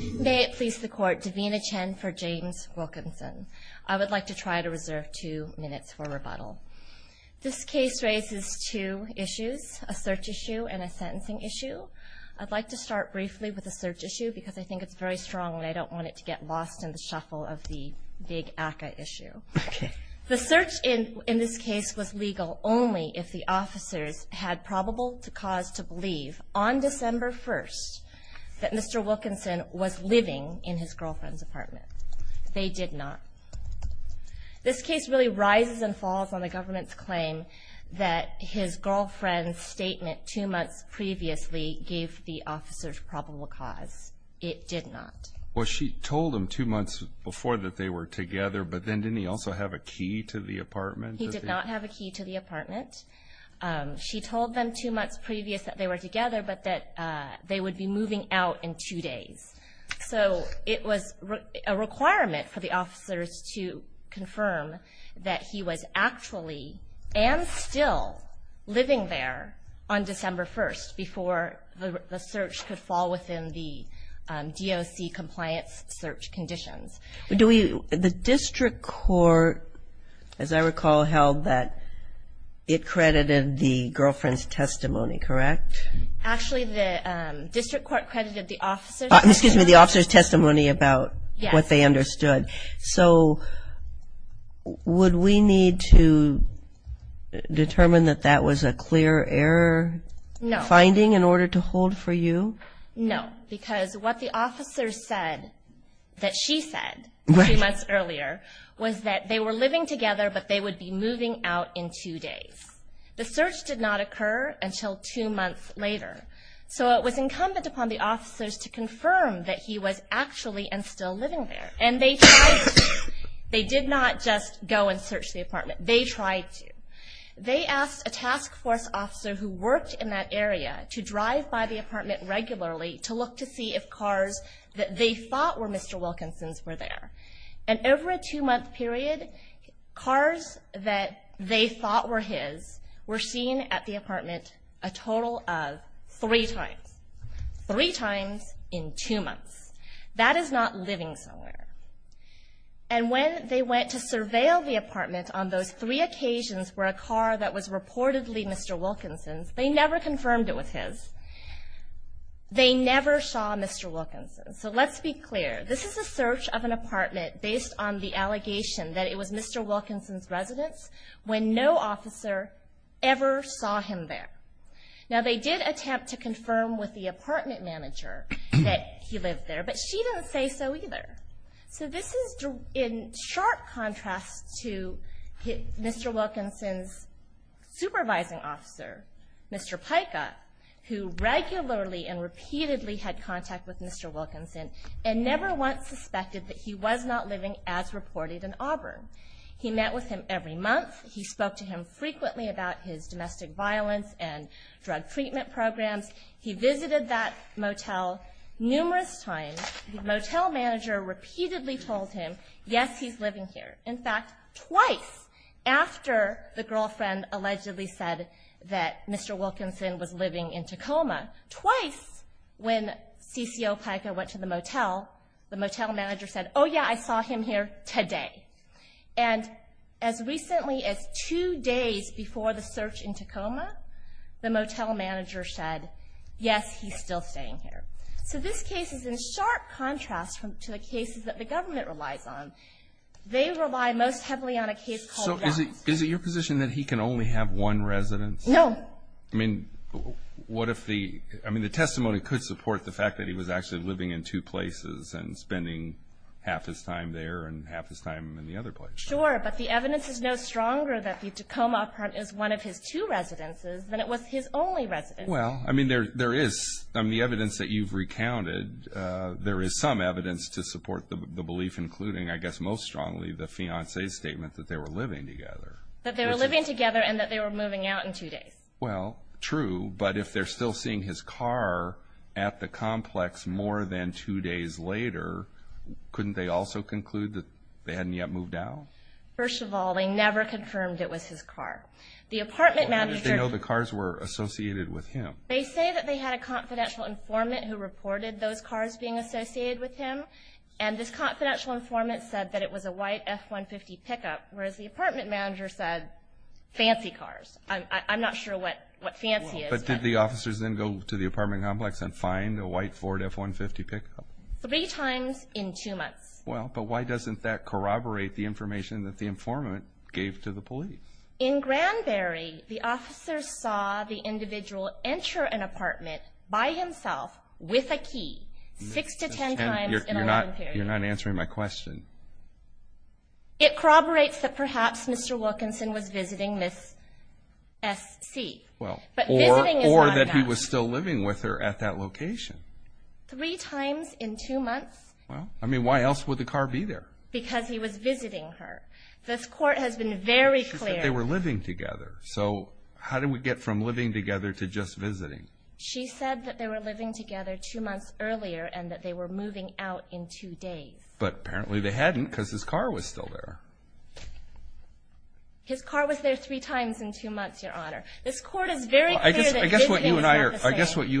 May it please the Court, Davina Chen for James Wilkinson. I would like to try to reserve two minutes for rebuttal. This case raises two issues, a search issue and a sentencing issue. I'd like to start briefly with a search issue because I think it's very strong and I don't want it to get lost in the shuffle of the big ACCA issue. The search in this case was legal only if the officers had probable cause to believe on December 1st that Mr. Wilkinson was living in his girlfriend's apartment. They did not. This case really rises and falls on the government's claim that his girlfriend's statement two months previously gave the officers probable cause. It did not. Well she told him two months before that they were together but then didn't he also have a key to the apartment? He did not have a key to the apartment. She told them two months previous that they were together but that they would be moving out in two days. So it was a requirement for the officers to confirm that he was actually and still living there on December 1st before the search could fall within the DOC compliance search conditions. The district court as I recall held that it credited the girlfriend's testimony correct? Actually the district court credited the officers excuse me the officers testimony about what they understood. So would we need to determine that that was a clear error finding in order to hold for you? No because what the officers said that she said three months earlier was that they were living together but they would be moving out in two days. The search did not occur until two months later. So it was incumbent upon the officers to confirm that he was actually and still living there and they they did not just go and search the apartment. They tried to. They asked a task force officer who to see if cars that they thought were Mr. Wilkinson's were there and over a two-month period cars that they thought were his were seen at the apartment a total of three times. Three times in two months. That is not living somewhere and when they went to surveil the apartment on those three occasions where a car that was reportedly Mr. Wilkinson's they never confirmed it with his. They never saw Mr. Wilkinson. So let's be clear this is a search of an apartment based on the allegation that it was Mr. Wilkinson's residence when no officer ever saw him there. Now they did attempt to confirm with the apartment manager that he lived there but she didn't say so either. So this is in sharp contrast to Mr. Wilkinson's supervising officer Mr. Pica who regularly and repeatedly had contact with Mr. Wilkinson and never once suspected that he was not living as reported in Auburn. He met with him every month. He spoke to him frequently about his domestic violence and drug treatment programs. He visited that motel numerous times. The motel manager repeatedly told him yes he's living here. In fact twice after the girlfriend allegedly said that Mr. Wilkinson was living in Tacoma. Twice when CCO Pica went to the motel the motel manager said oh yeah I saw him here today. And as recently as two days before the search in Tacoma the motel manager said yes he's still staying here. So this case is in sharp contrast from to the cases that the government relies on. They rely most heavily on a case. So is it your position that he can only have one residence? No. I mean what if the I mean the testimony could support the fact that he was actually living in two places and spending half his time there and half his time in the other place. Sure but the evidence is no stronger that the Tacoma apartment is one of his two residences than it was his only residence. Well I mean there there is I mean the evidence that you've recounted there is some evidence to support the belief including I guess most strongly the fiance's statement that they were living together. That they were living together and that they were moving out in two days. Well true but if they're still seeing his car at the complex more than two days later couldn't they also conclude that they hadn't yet moved out? First of all they never confirmed it was his car. The apartment manager. They know the cars were associated with him. They say that they had a confidential informant who reported those cars being associated with him and this confidential informant said that it was a white f-150 pickup whereas the I'm not sure what what fiance is. But did the officers then go to the apartment complex and find a white Ford f-150 pickup? Three times in two months. Well but why doesn't that corroborate the information that the informant gave to the police? In Granbury the officers saw the individual enter an apartment by himself with a key six to ten times. You're not you're not answering my question. It corroborates that perhaps Mr. Wilkinson was visiting Miss S.C. Well or that he was still living with her at that location. Three times in two months. Well I mean why else would the car be there? Because he was visiting her. This court has been very clear. They were living together so how did we get from living together to just visiting? She said that they were living together two days. But apparently they hadn't because his car was still there. His car was there three times in two months your honor. This court is very clear. I guess what you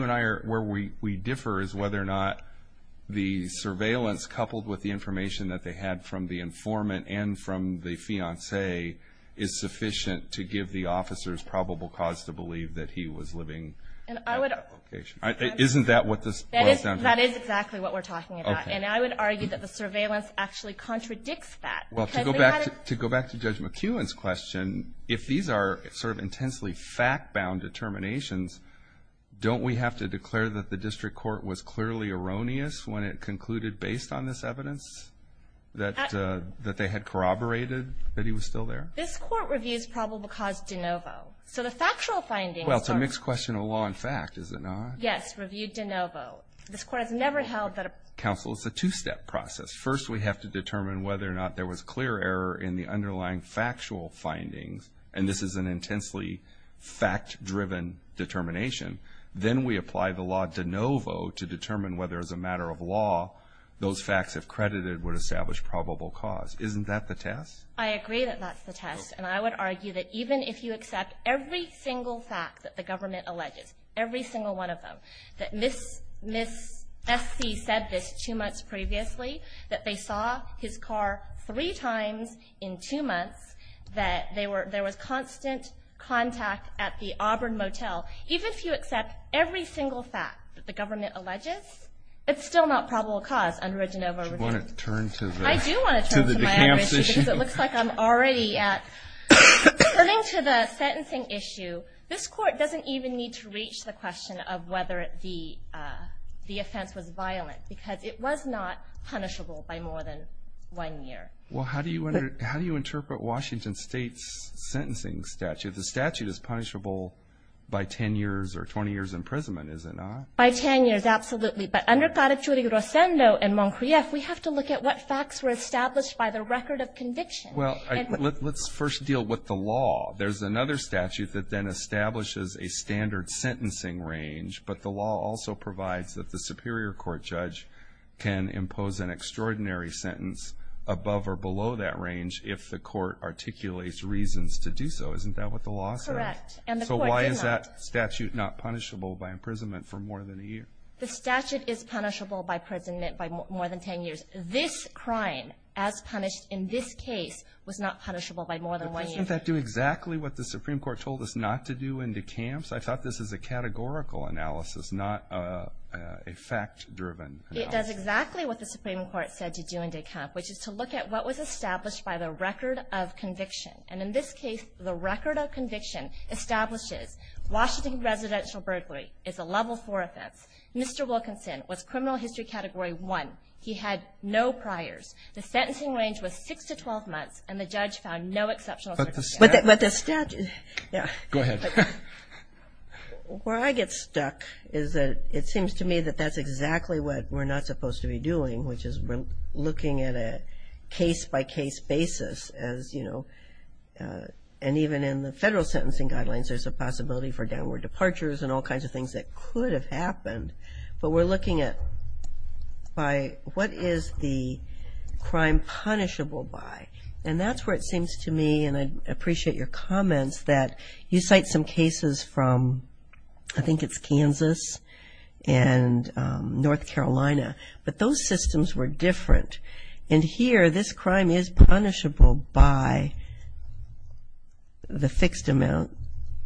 and I are where we we differ is whether or not the surveillance coupled with the information that they had from the informant and from the fiance is sufficient to give the officers probable cause to believe that he was living at that location. Isn't that what this is? That is exactly what we're talking about and I would argue that the surveillance actually contradicts that. Well to go back to go back to Judge McEwen's question if these are sort of intensely fact-bound determinations don't we have to declare that the district court was clearly erroneous when it concluded based on this evidence that that they had corroborated that he was still there? This court reviews probable cause de novo. So the factual findings. Well it's a mixed question of law and fact is it not? Yes. Reviewed de novo. This court has never held that. Counsel it's a two-step process. First we have to determine whether or not there was clear error in the underlying factual findings and this is an intensely fact-driven determination. Then we apply the law de novo to determine whether as a matter of law those facts if credited would establish probable cause. Isn't that the test? I agree that that's the test and I would argue that even if you accept every single fact that the that Miss S.C. said this two months previously that they saw his car three times in two months that they were there was constant contact at the Auburn Motel. Even if you accept every single fact that the government alleges it's still not probable cause under a de novo review. Do you want to turn to the camps issue? I do want to turn to my advocacy because it looks like I'm already at. Turning to the sentencing issue this court doesn't even need to reach the the offense was violent because it was not punishable by more than one year. Well how do you how do you interpret Washington State's sentencing statute? The statute is punishable by 10 years or 20 years imprisonment is it not? By 10 years absolutely. But under Caracciurri-Rosendo and Moncrief we have to look at what facts were established by the record of conviction. Well let's first deal with the law. There's another statute that then establishes a standard sentencing range but the law also provides that the superior court judge can impose an extraordinary sentence above or below that range if the court articulates reasons to do so. Isn't that what the law says? Correct. And the court did not. So why is that statute not punishable by imprisonment for more than a year? The statute is punishable by imprisonment by more than 10 years. This crime as punished in this case was not punishable by more than one year. Doesn't that do exactly what the Supreme Court told us not to do in DeKalb? I thought this was a categorical analysis not a fact driven analysis. It does exactly what the Supreme Court said to do in DeKalb which is to look at what was established by the record of conviction. And in this case the record of conviction establishes Washington residential burglary is a level 4 offense. Mr. Wilkinson was criminal history category 1. He had no priors. The sentencing range was 6 to 12 months and the judge found no exceptions. But the statute. Go ahead. Where I get stuck is that it seems to me that that's exactly what we're not supposed to be doing which is we're looking at a case by case basis as you know and even in the federal sentencing guidelines there's a possibility for downward departures and all kinds of things that could have happened. But we're looking at by what is the crime punishable by. And that's where it seems to me and I appreciate your comments that you cite some cases from I think it's Kansas and North Carolina. But those systems were different. And here this crime is punishable by the fixed amount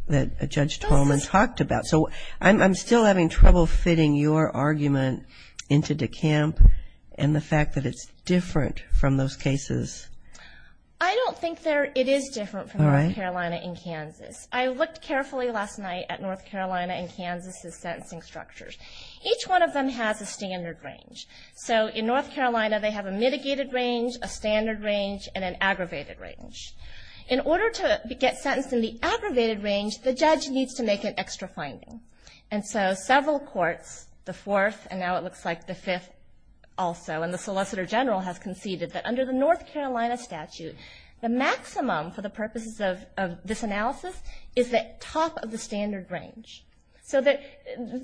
that Judge Tolman talked about. So I'm still having trouble fitting your argument into DeKalb and the fact that it's different from those cases. I don't think it is different from North Carolina and Kansas. I looked carefully last night at North Carolina and Kansas' sentencing structures. Each one of them has a standard range. So in North Carolina they have a mitigated range, a standard range and an aggravated range. In order to get sentenced in the aggravated range the judge needs to make an extra finding. And so several courts, the fourth and now it looks like the fifth also and the Solicitor General has conceded that under the North Carolina statute the maximum for the purposes of this analysis is the top of the standard range. So that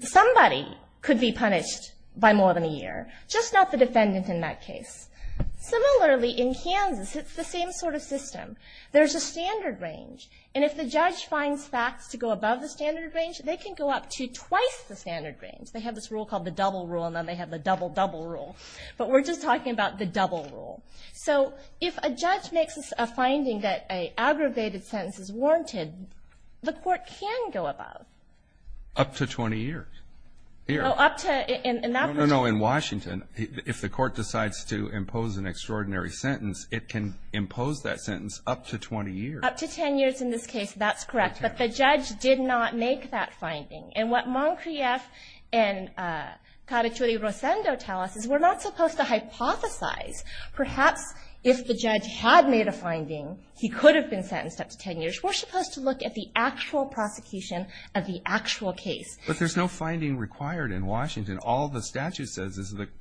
somebody could be punished by more than a year, just not the same sort of system. There's a standard range. And if the judge finds facts to go above the standard range they can go up to twice the standard range. They have this rule called the double rule and then they have the double double rule. But we're just talking about the double rule. So if a judge makes a finding that an aggravated sentence is warranted the court can go above. Up to 20 years. Up to, in that particular case. No, no, no, in Washington if the court decides to impose an extraordinary sentence it can impose that sentence up to 20 years. Up to 10 years in this case, that's correct. But the judge did not make that finding. And what Moncrief and Carachuri-Rosendo tell us is we're not supposed to hypothesize. Perhaps if the judge had made a finding he could have been sentenced up to 10 years. We're supposed to look at the actual sentence.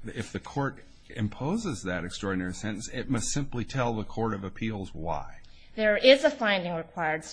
If the court imposes that extraordinary sentence it must simply tell the court of appeals why. There is a finding required.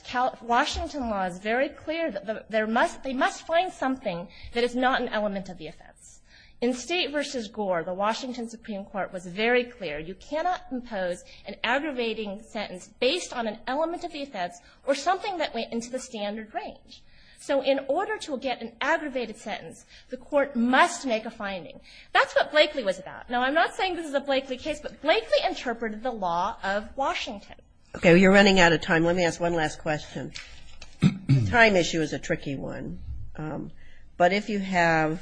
Washington law is very clear that they must find something that is not an element of the offense. In State v. Gore the Washington Supreme Court was very clear you cannot impose an aggravating sentence based on an element of the offense or something that went into the standard range. So in order to get an aggravated sentence the court must make a finding. That's what Blakely was about. Now I'm not saying this is a Blakely case, but Blakely interpreted the law of Washington. Okay, you're running out of time. Let me ask one last question. The time issue is a tricky one. But if you have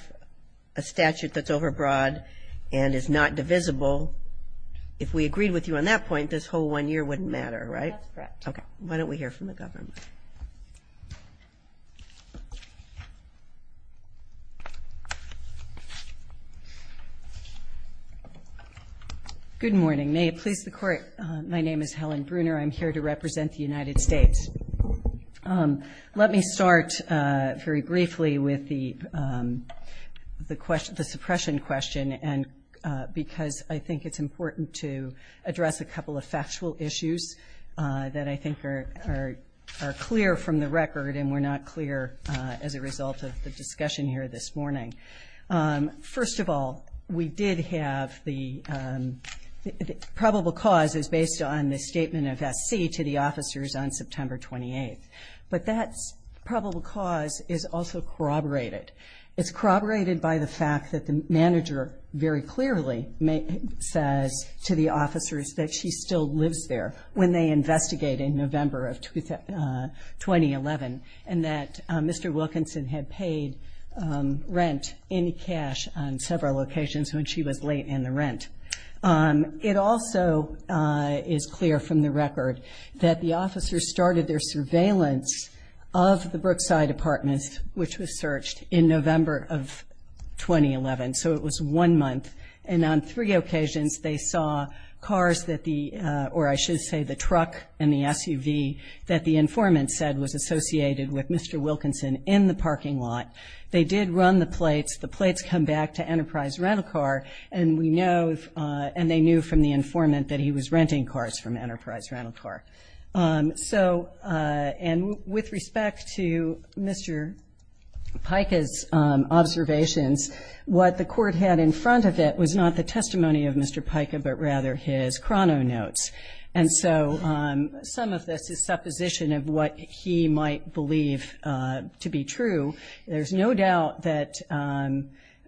a statute that's overbroad and is not divisible, if we agreed with you on that point this whole one year wouldn't matter, right? That's correct. Good morning. May it please the court, my name is Helen Bruner. I'm here to represent the United States. Let me start very briefly with the suppression question because I think it's important to address a couple of factual issues. I think it's important to address the factual issues that I think are clear from the record and were not clear as a result of the discussion here this morning. First of all, we did have the probable cause is based on the statement of S.C. to the officers on September 28th. But that probable cause is also corroborated. It's corroborated by the fact that the manager very clearly says to the officers that she still lives there when they investigate in November of 2011. And that Mr. Wilkinson had paid rent in cash on several occasions when she was late in the rent. It also is clear from the record that the officers started their surveillance of the Brookside Apartments, which was searched in November of 2011. So it was one month. And on three occasions they saw cars that the, or I should say the trucks that were parked in the SUV that the informant said was associated with Mr. Wilkinson in the parking lot. They did run the plates. The plates come back to Enterprise Rental Car and we know, and they knew from the informant that he was renting cars from Enterprise Rental Car. So, and with respect to Mr. Pica's observations, what the court had in front of it was not the testimony of Mr. Pica but rather his supposition of what he might believe to be true. There's no doubt that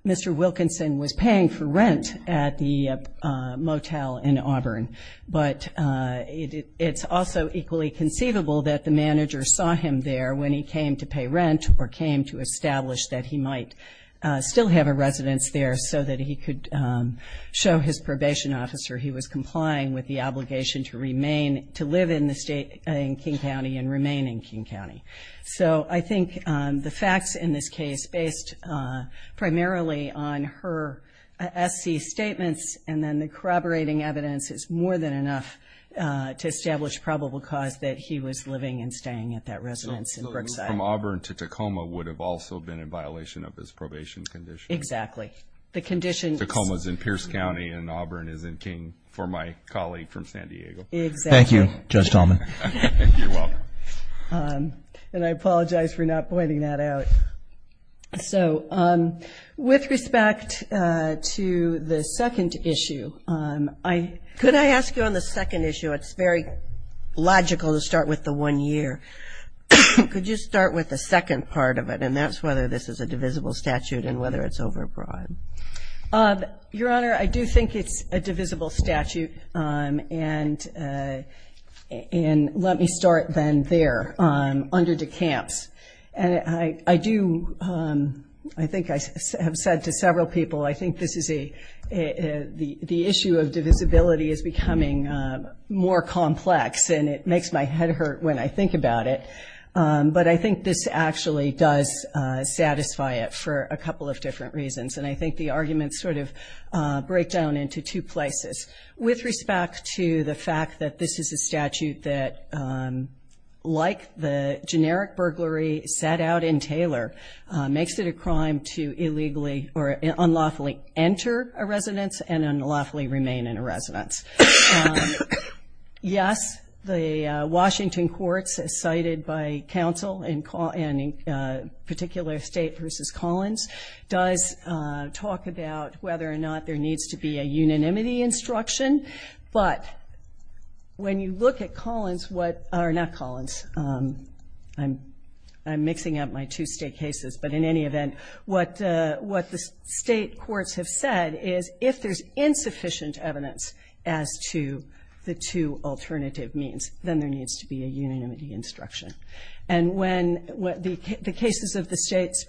Mr. Wilkinson was paying for rent at the motel in Auburn. But it's also equally conceivable that the manager saw him there when he came to pay rent or came to establish that he might still have a residence there so that he could show his probation officer he was complying with the obligation to remain, to live there in King County and remain in King County. So I think the facts in this case based primarily on her SC statements and then the corroborating evidence is more than enough to establish probable cause that he was living and staying at that residence in Brookside. So moving from Auburn to Tacoma would have also been in violation of his probation condition? Exactly. The condition... And I apologize for not pointing that out. So with respect to the second issue, I... Could I ask you on the second issue, it's very logical to start with the one year. Could you start with the second part of it and that's whether this is a divisible statute and whether it's overbroad? Your Honor, I do think it's a divisible statute and let me start then there under DeCamps. And I do, I think I have said to several people, I think this is a, the issue of divisibility is becoming more complex and it makes my head hurt when I think about it. But I think this actually does satisfy it for a couple of different reasons. I think the arguments sort of break down into two places. With respect to the fact that this is a statute that, like the generic burglary set out in Taylor, makes it a crime to illegally or unlawfully enter a residence and unlawfully remain in a residence. Yes, the Washington courts cited by counsel in particular state versus Collins does talk about the fact that the state courts do talk about whether or not there needs to be a unanimity instruction, but when you look at Collins, what, or not Collins, I'm mixing up my two state cases, but in any event, what the state courts have said is if there's insufficient evidence as to the two alternative means, then there needs to be a unanimity instruction. And when the cases of the state's,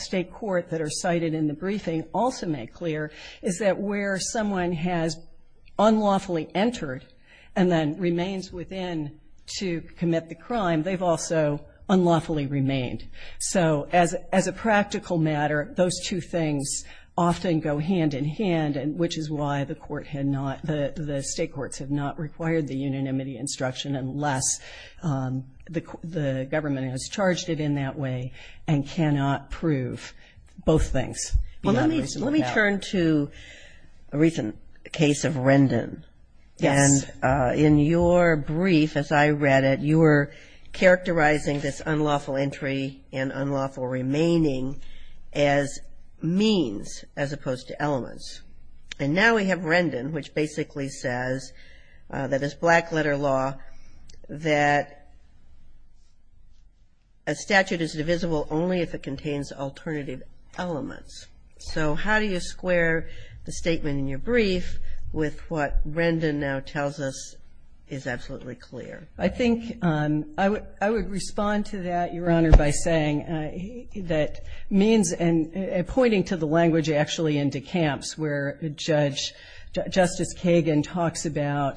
state court that are cited in the briefing are unanimous. What they've also made clear is that where someone has unlawfully entered and then remains within to commit the crime, they've also unlawfully remained. So as a practical matter, those two things often go hand in hand, which is why the court had not, the state courts have not required the unanimity instruction unless the government has charged it in that way and cannot prove both things. Well, let me turn to a recent case of Rendon. And in your brief, as I read it, you were characterizing this unlawful entry and unlawful remaining as means as opposed to elements. And now we have Rendon, which basically says that it's black-letter law that a statute is divisible only if it contains alternative elements. So how do you square the statement in your brief with what Rendon now tells us is absolutely clear? I think I would respond to that, Your Honor, by saying that means, and pointing to the language actually in DeCamps where Justice Kagan talks about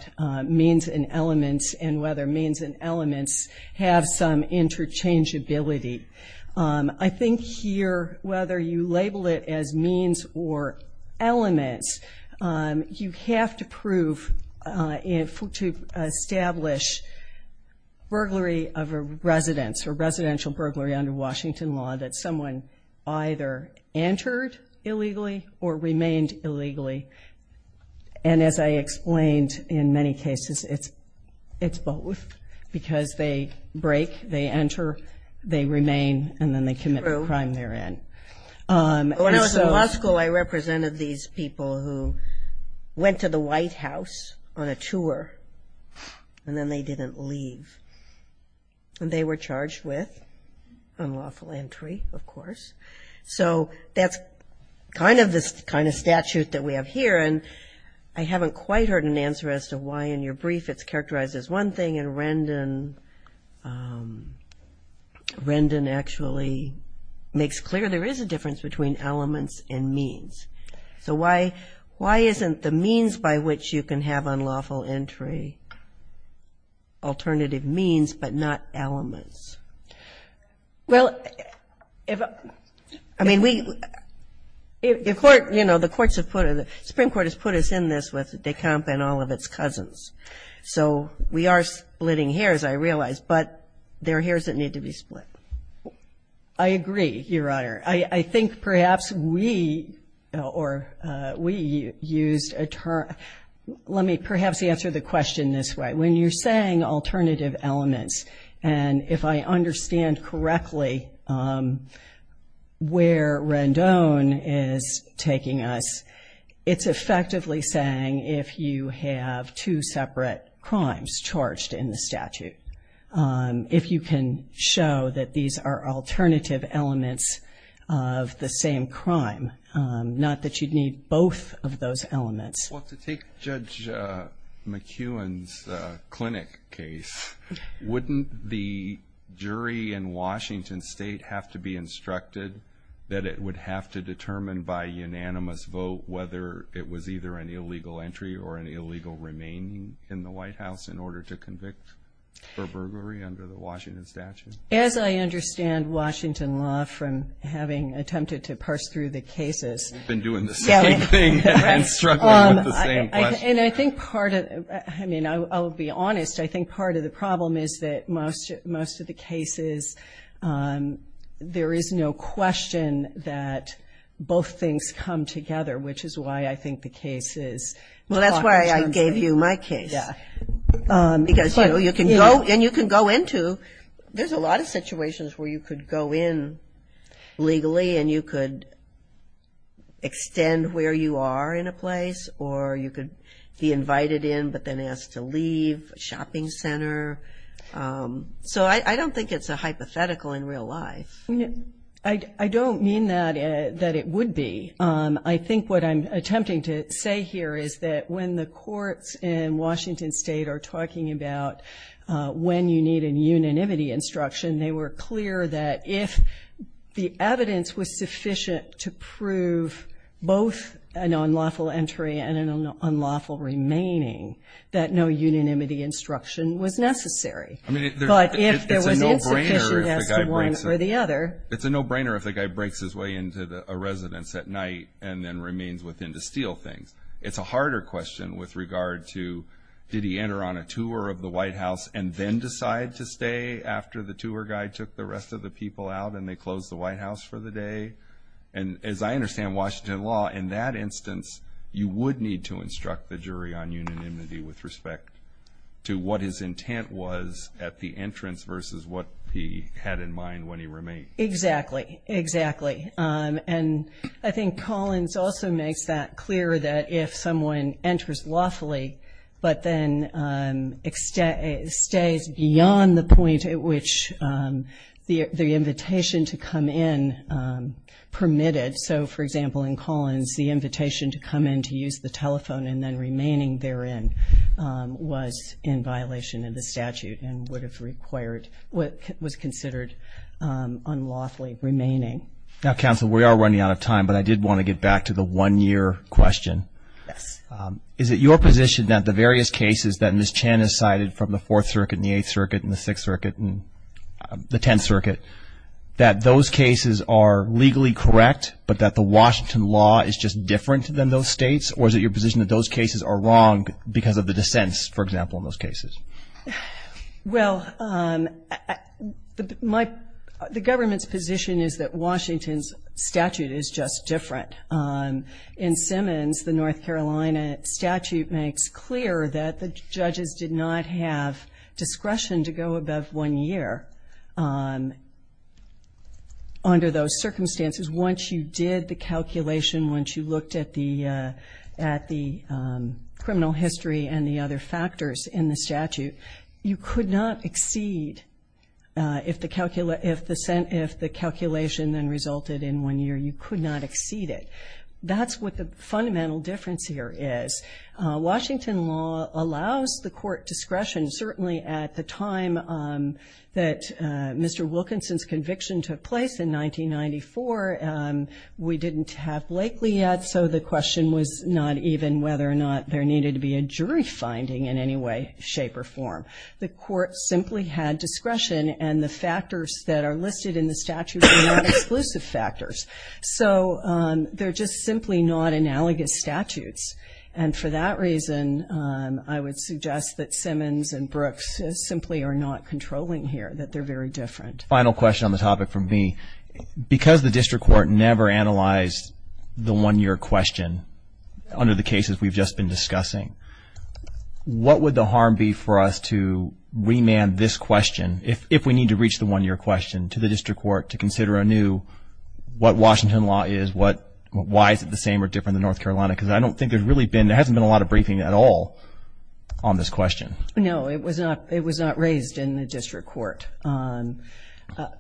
means and elements and whether means and elements have some interchangeability. I think here, whether you label it as means or elements, you have to prove, to establish burglary of a residence or residential burglary under Washington law that someone either entered illegally or remained illegally. And as I explained, in many cases, it's both, because they break, they enter, they remain, and then they leave. True. When I was in law school, I represented these people who went to the White House on a tour, and then they didn't leave. And they were charged with unlawful entry, of course. So that's kind of the kind of statute that we have here. And I haven't quite heard an answer as to why in your brief it's characterized as one thing and Rendon as another. But it actually makes clear there is a difference between elements and means. So why isn't the means by which you can have unlawful entry alternative means, but not elements? Well, I mean, the Supreme Court has put us in this with DeCamps and all of its cousins. So we are splitting hairs, I realize, but there are hairs that need to be split. I agree, Your Honor. I think perhaps we used a term, let me perhaps answer the question this way. When you're saying alternative elements, and if I understand correctly, where Rendon is taking us, it's effectively saying if you have two separate crimes charged in the statute. If you can show that these are alternative elements of the same crime, not that you'd need both of those elements. Well, to take Judge McEwen's clinic case, wouldn't the jury in Washington State have to be instructed that it would have to determine by unanimous vote whether it was either an illegal entry or an illegal remaining in the White House in order to convict? For burglary under the Washington statute? As I understand Washington law from having attempted to parse through the cases. And I think part of, I mean, I'll be honest, I think part of the problem is that most of the cases, there is no question that both things come together, which is why I think the case is. Well, that's why I gave you my case. Because, you know, you can go, and you can go into, there's a lot of situations where you could go in legally and you could extend where you are in a place, or you could be invited in but then asked to leave, a shopping center. So I don't think it's a hypothetical in real life. I don't mean that it would be. I think what I'm attempting to say here is that when the courts in Washington State are talking about when you need a unanimity instruction, they were clear that if the evidence was sufficient to prove both an unlawful entry and an unlawful remaining, that no unanimity instruction was necessary. But if there was insufficiency as to one or the other. It's a no-brainer if the guy breaks his way into a residence at night and then remains within to steal things. It's a harder question with regard to did he enter on a tour of the White House and then decide to stay after the tour guide took the rest of the people out and they closed the White House for the day. And as I understand Washington law, in that instance, you would need to instruct the jury on unanimity with respect to what his intent was at the entrance versus what he had in mind when he remained. Exactly. Exactly. And I think Collins also makes that clear that if someone enters lawfully, but then stays beyond the point at which the invitation to come in permitted. So, for example, in Collins, the invitation to come in to use the telephone and then remaining therein was in violation of the statute. And that would have required what was considered unlawfully remaining. Now, counsel, we are running out of time, but I did want to get back to the one-year question. Is it your position that the various cases that Ms. Chan has cited from the Fourth Circuit and the Eighth Circuit and the Sixth Circuit and the Tenth Circuit, that those cases are legally correct, but that the Washington law is just different than those states? Or is it your position that those cases are wrong because of the dissents, for example, in those cases? Well, the government's position is that Washington's statute is just different. In Simmons, the North Carolina statute makes clear that the judges did not have discretion to go above one year. Under those circumstances, once you did the calculation, once you looked at the criminal history and the other factors in the statute, you could not exceed if the calculation then resulted in one year. You could not exceed it. That's what the fundamental difference here is. Washington law allows the court discretion, certainly at the time that Mr. Wilkinson's conviction took place in 1994. We didn't have Blakely yet, so the question was not even whether or not there needed to be a jury finding in any way, shape or form. The court simply had discretion, and the factors that are listed in the statute are not exclusive factors. So they're just simply not analogous statutes. And for that reason, I would suggest that Simmons and Brooks simply are not controlling here, that they're very different. Final question on the topic from me. Because the district court never analyzed the one-year question under the cases we've just been discussing, what would the harm be for us to remand this question, if we need to reach the one-year question, to the district court to consider anew what Washington law is, why is it the same or different than North Carolina? Because I don't think there's really been, there hasn't been a lot of briefing at all on this question. No, it was not raised in the district court. I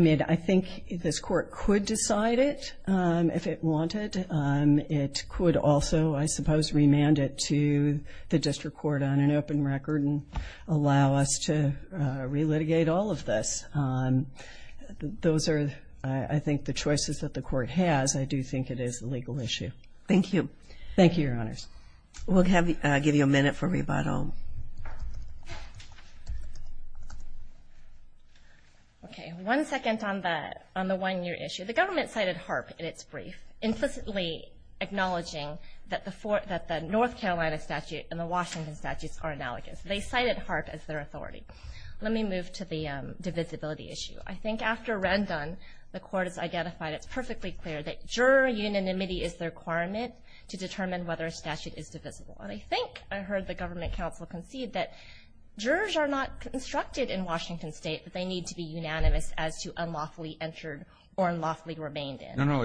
mean, I think this court could decide it if it wanted. It could also, I suppose, remand it to the district court on an open record and allow us to re-litigate all of this. Those are, I think, the choices that the court has. I do think it is a legal issue. Thank you. Okay, one second on the one-year issue. The government cited HAARP in its brief, implicitly acknowledging that the North Carolina statute and the Washington statutes are analogous. They cited HAARP as their authority. Let me move to the divisibility issue. I think after Rendon, the court has identified it's perfectly clear that juror unanimity is the requirement to determine whether a statute is divisible. And I think I heard the government counsel concede that jurors are not constructed in Washington state, but they need to be unanimous as to unlawfully entered or unlawfully remained in. No, no,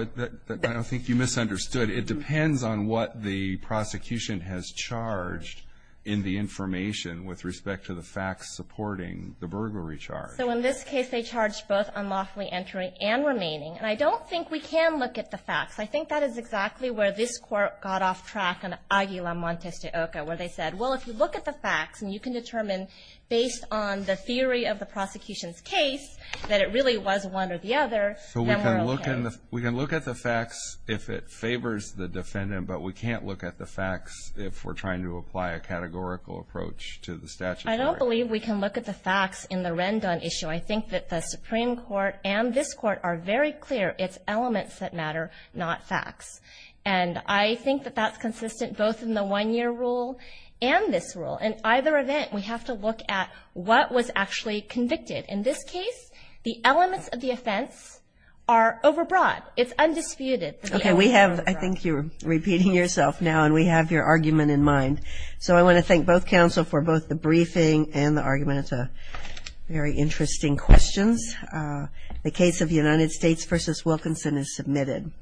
I think you misunderstood. It depends on what the prosecution has charged in the information with respect to the facts supporting the burglary charge. So in this case, they charged both unlawfully entering and remaining. And I don't think we can look at the facts. I think that is exactly where this court got off track on Aguilar Montes de Oca, where they said, well, if you look at the facts and you can determine, based on the theory of the prosecution's case, that it really was one or the other, then we're okay. We can look at the facts if it favors the defendant, but we can't look at the facts if we're trying to apply a categorical approach to the statute. I don't believe we can look at the facts in the Rendon issue. I think that the Supreme Court and this court are very clear it's elements that matter, not facts. And I think that that's consistent both in the one-year rule and this rule. In either event, we have to look at what was actually convicted. And we have to look at what was brought. It's undisputed that it was brought. Okay, we have, I think you're repeating yourself now, and we have your argument in mind. So I want to thank both counsel for both the briefing and the argument. It's very interesting questions. The case of United States v. Wilkinson is submitted.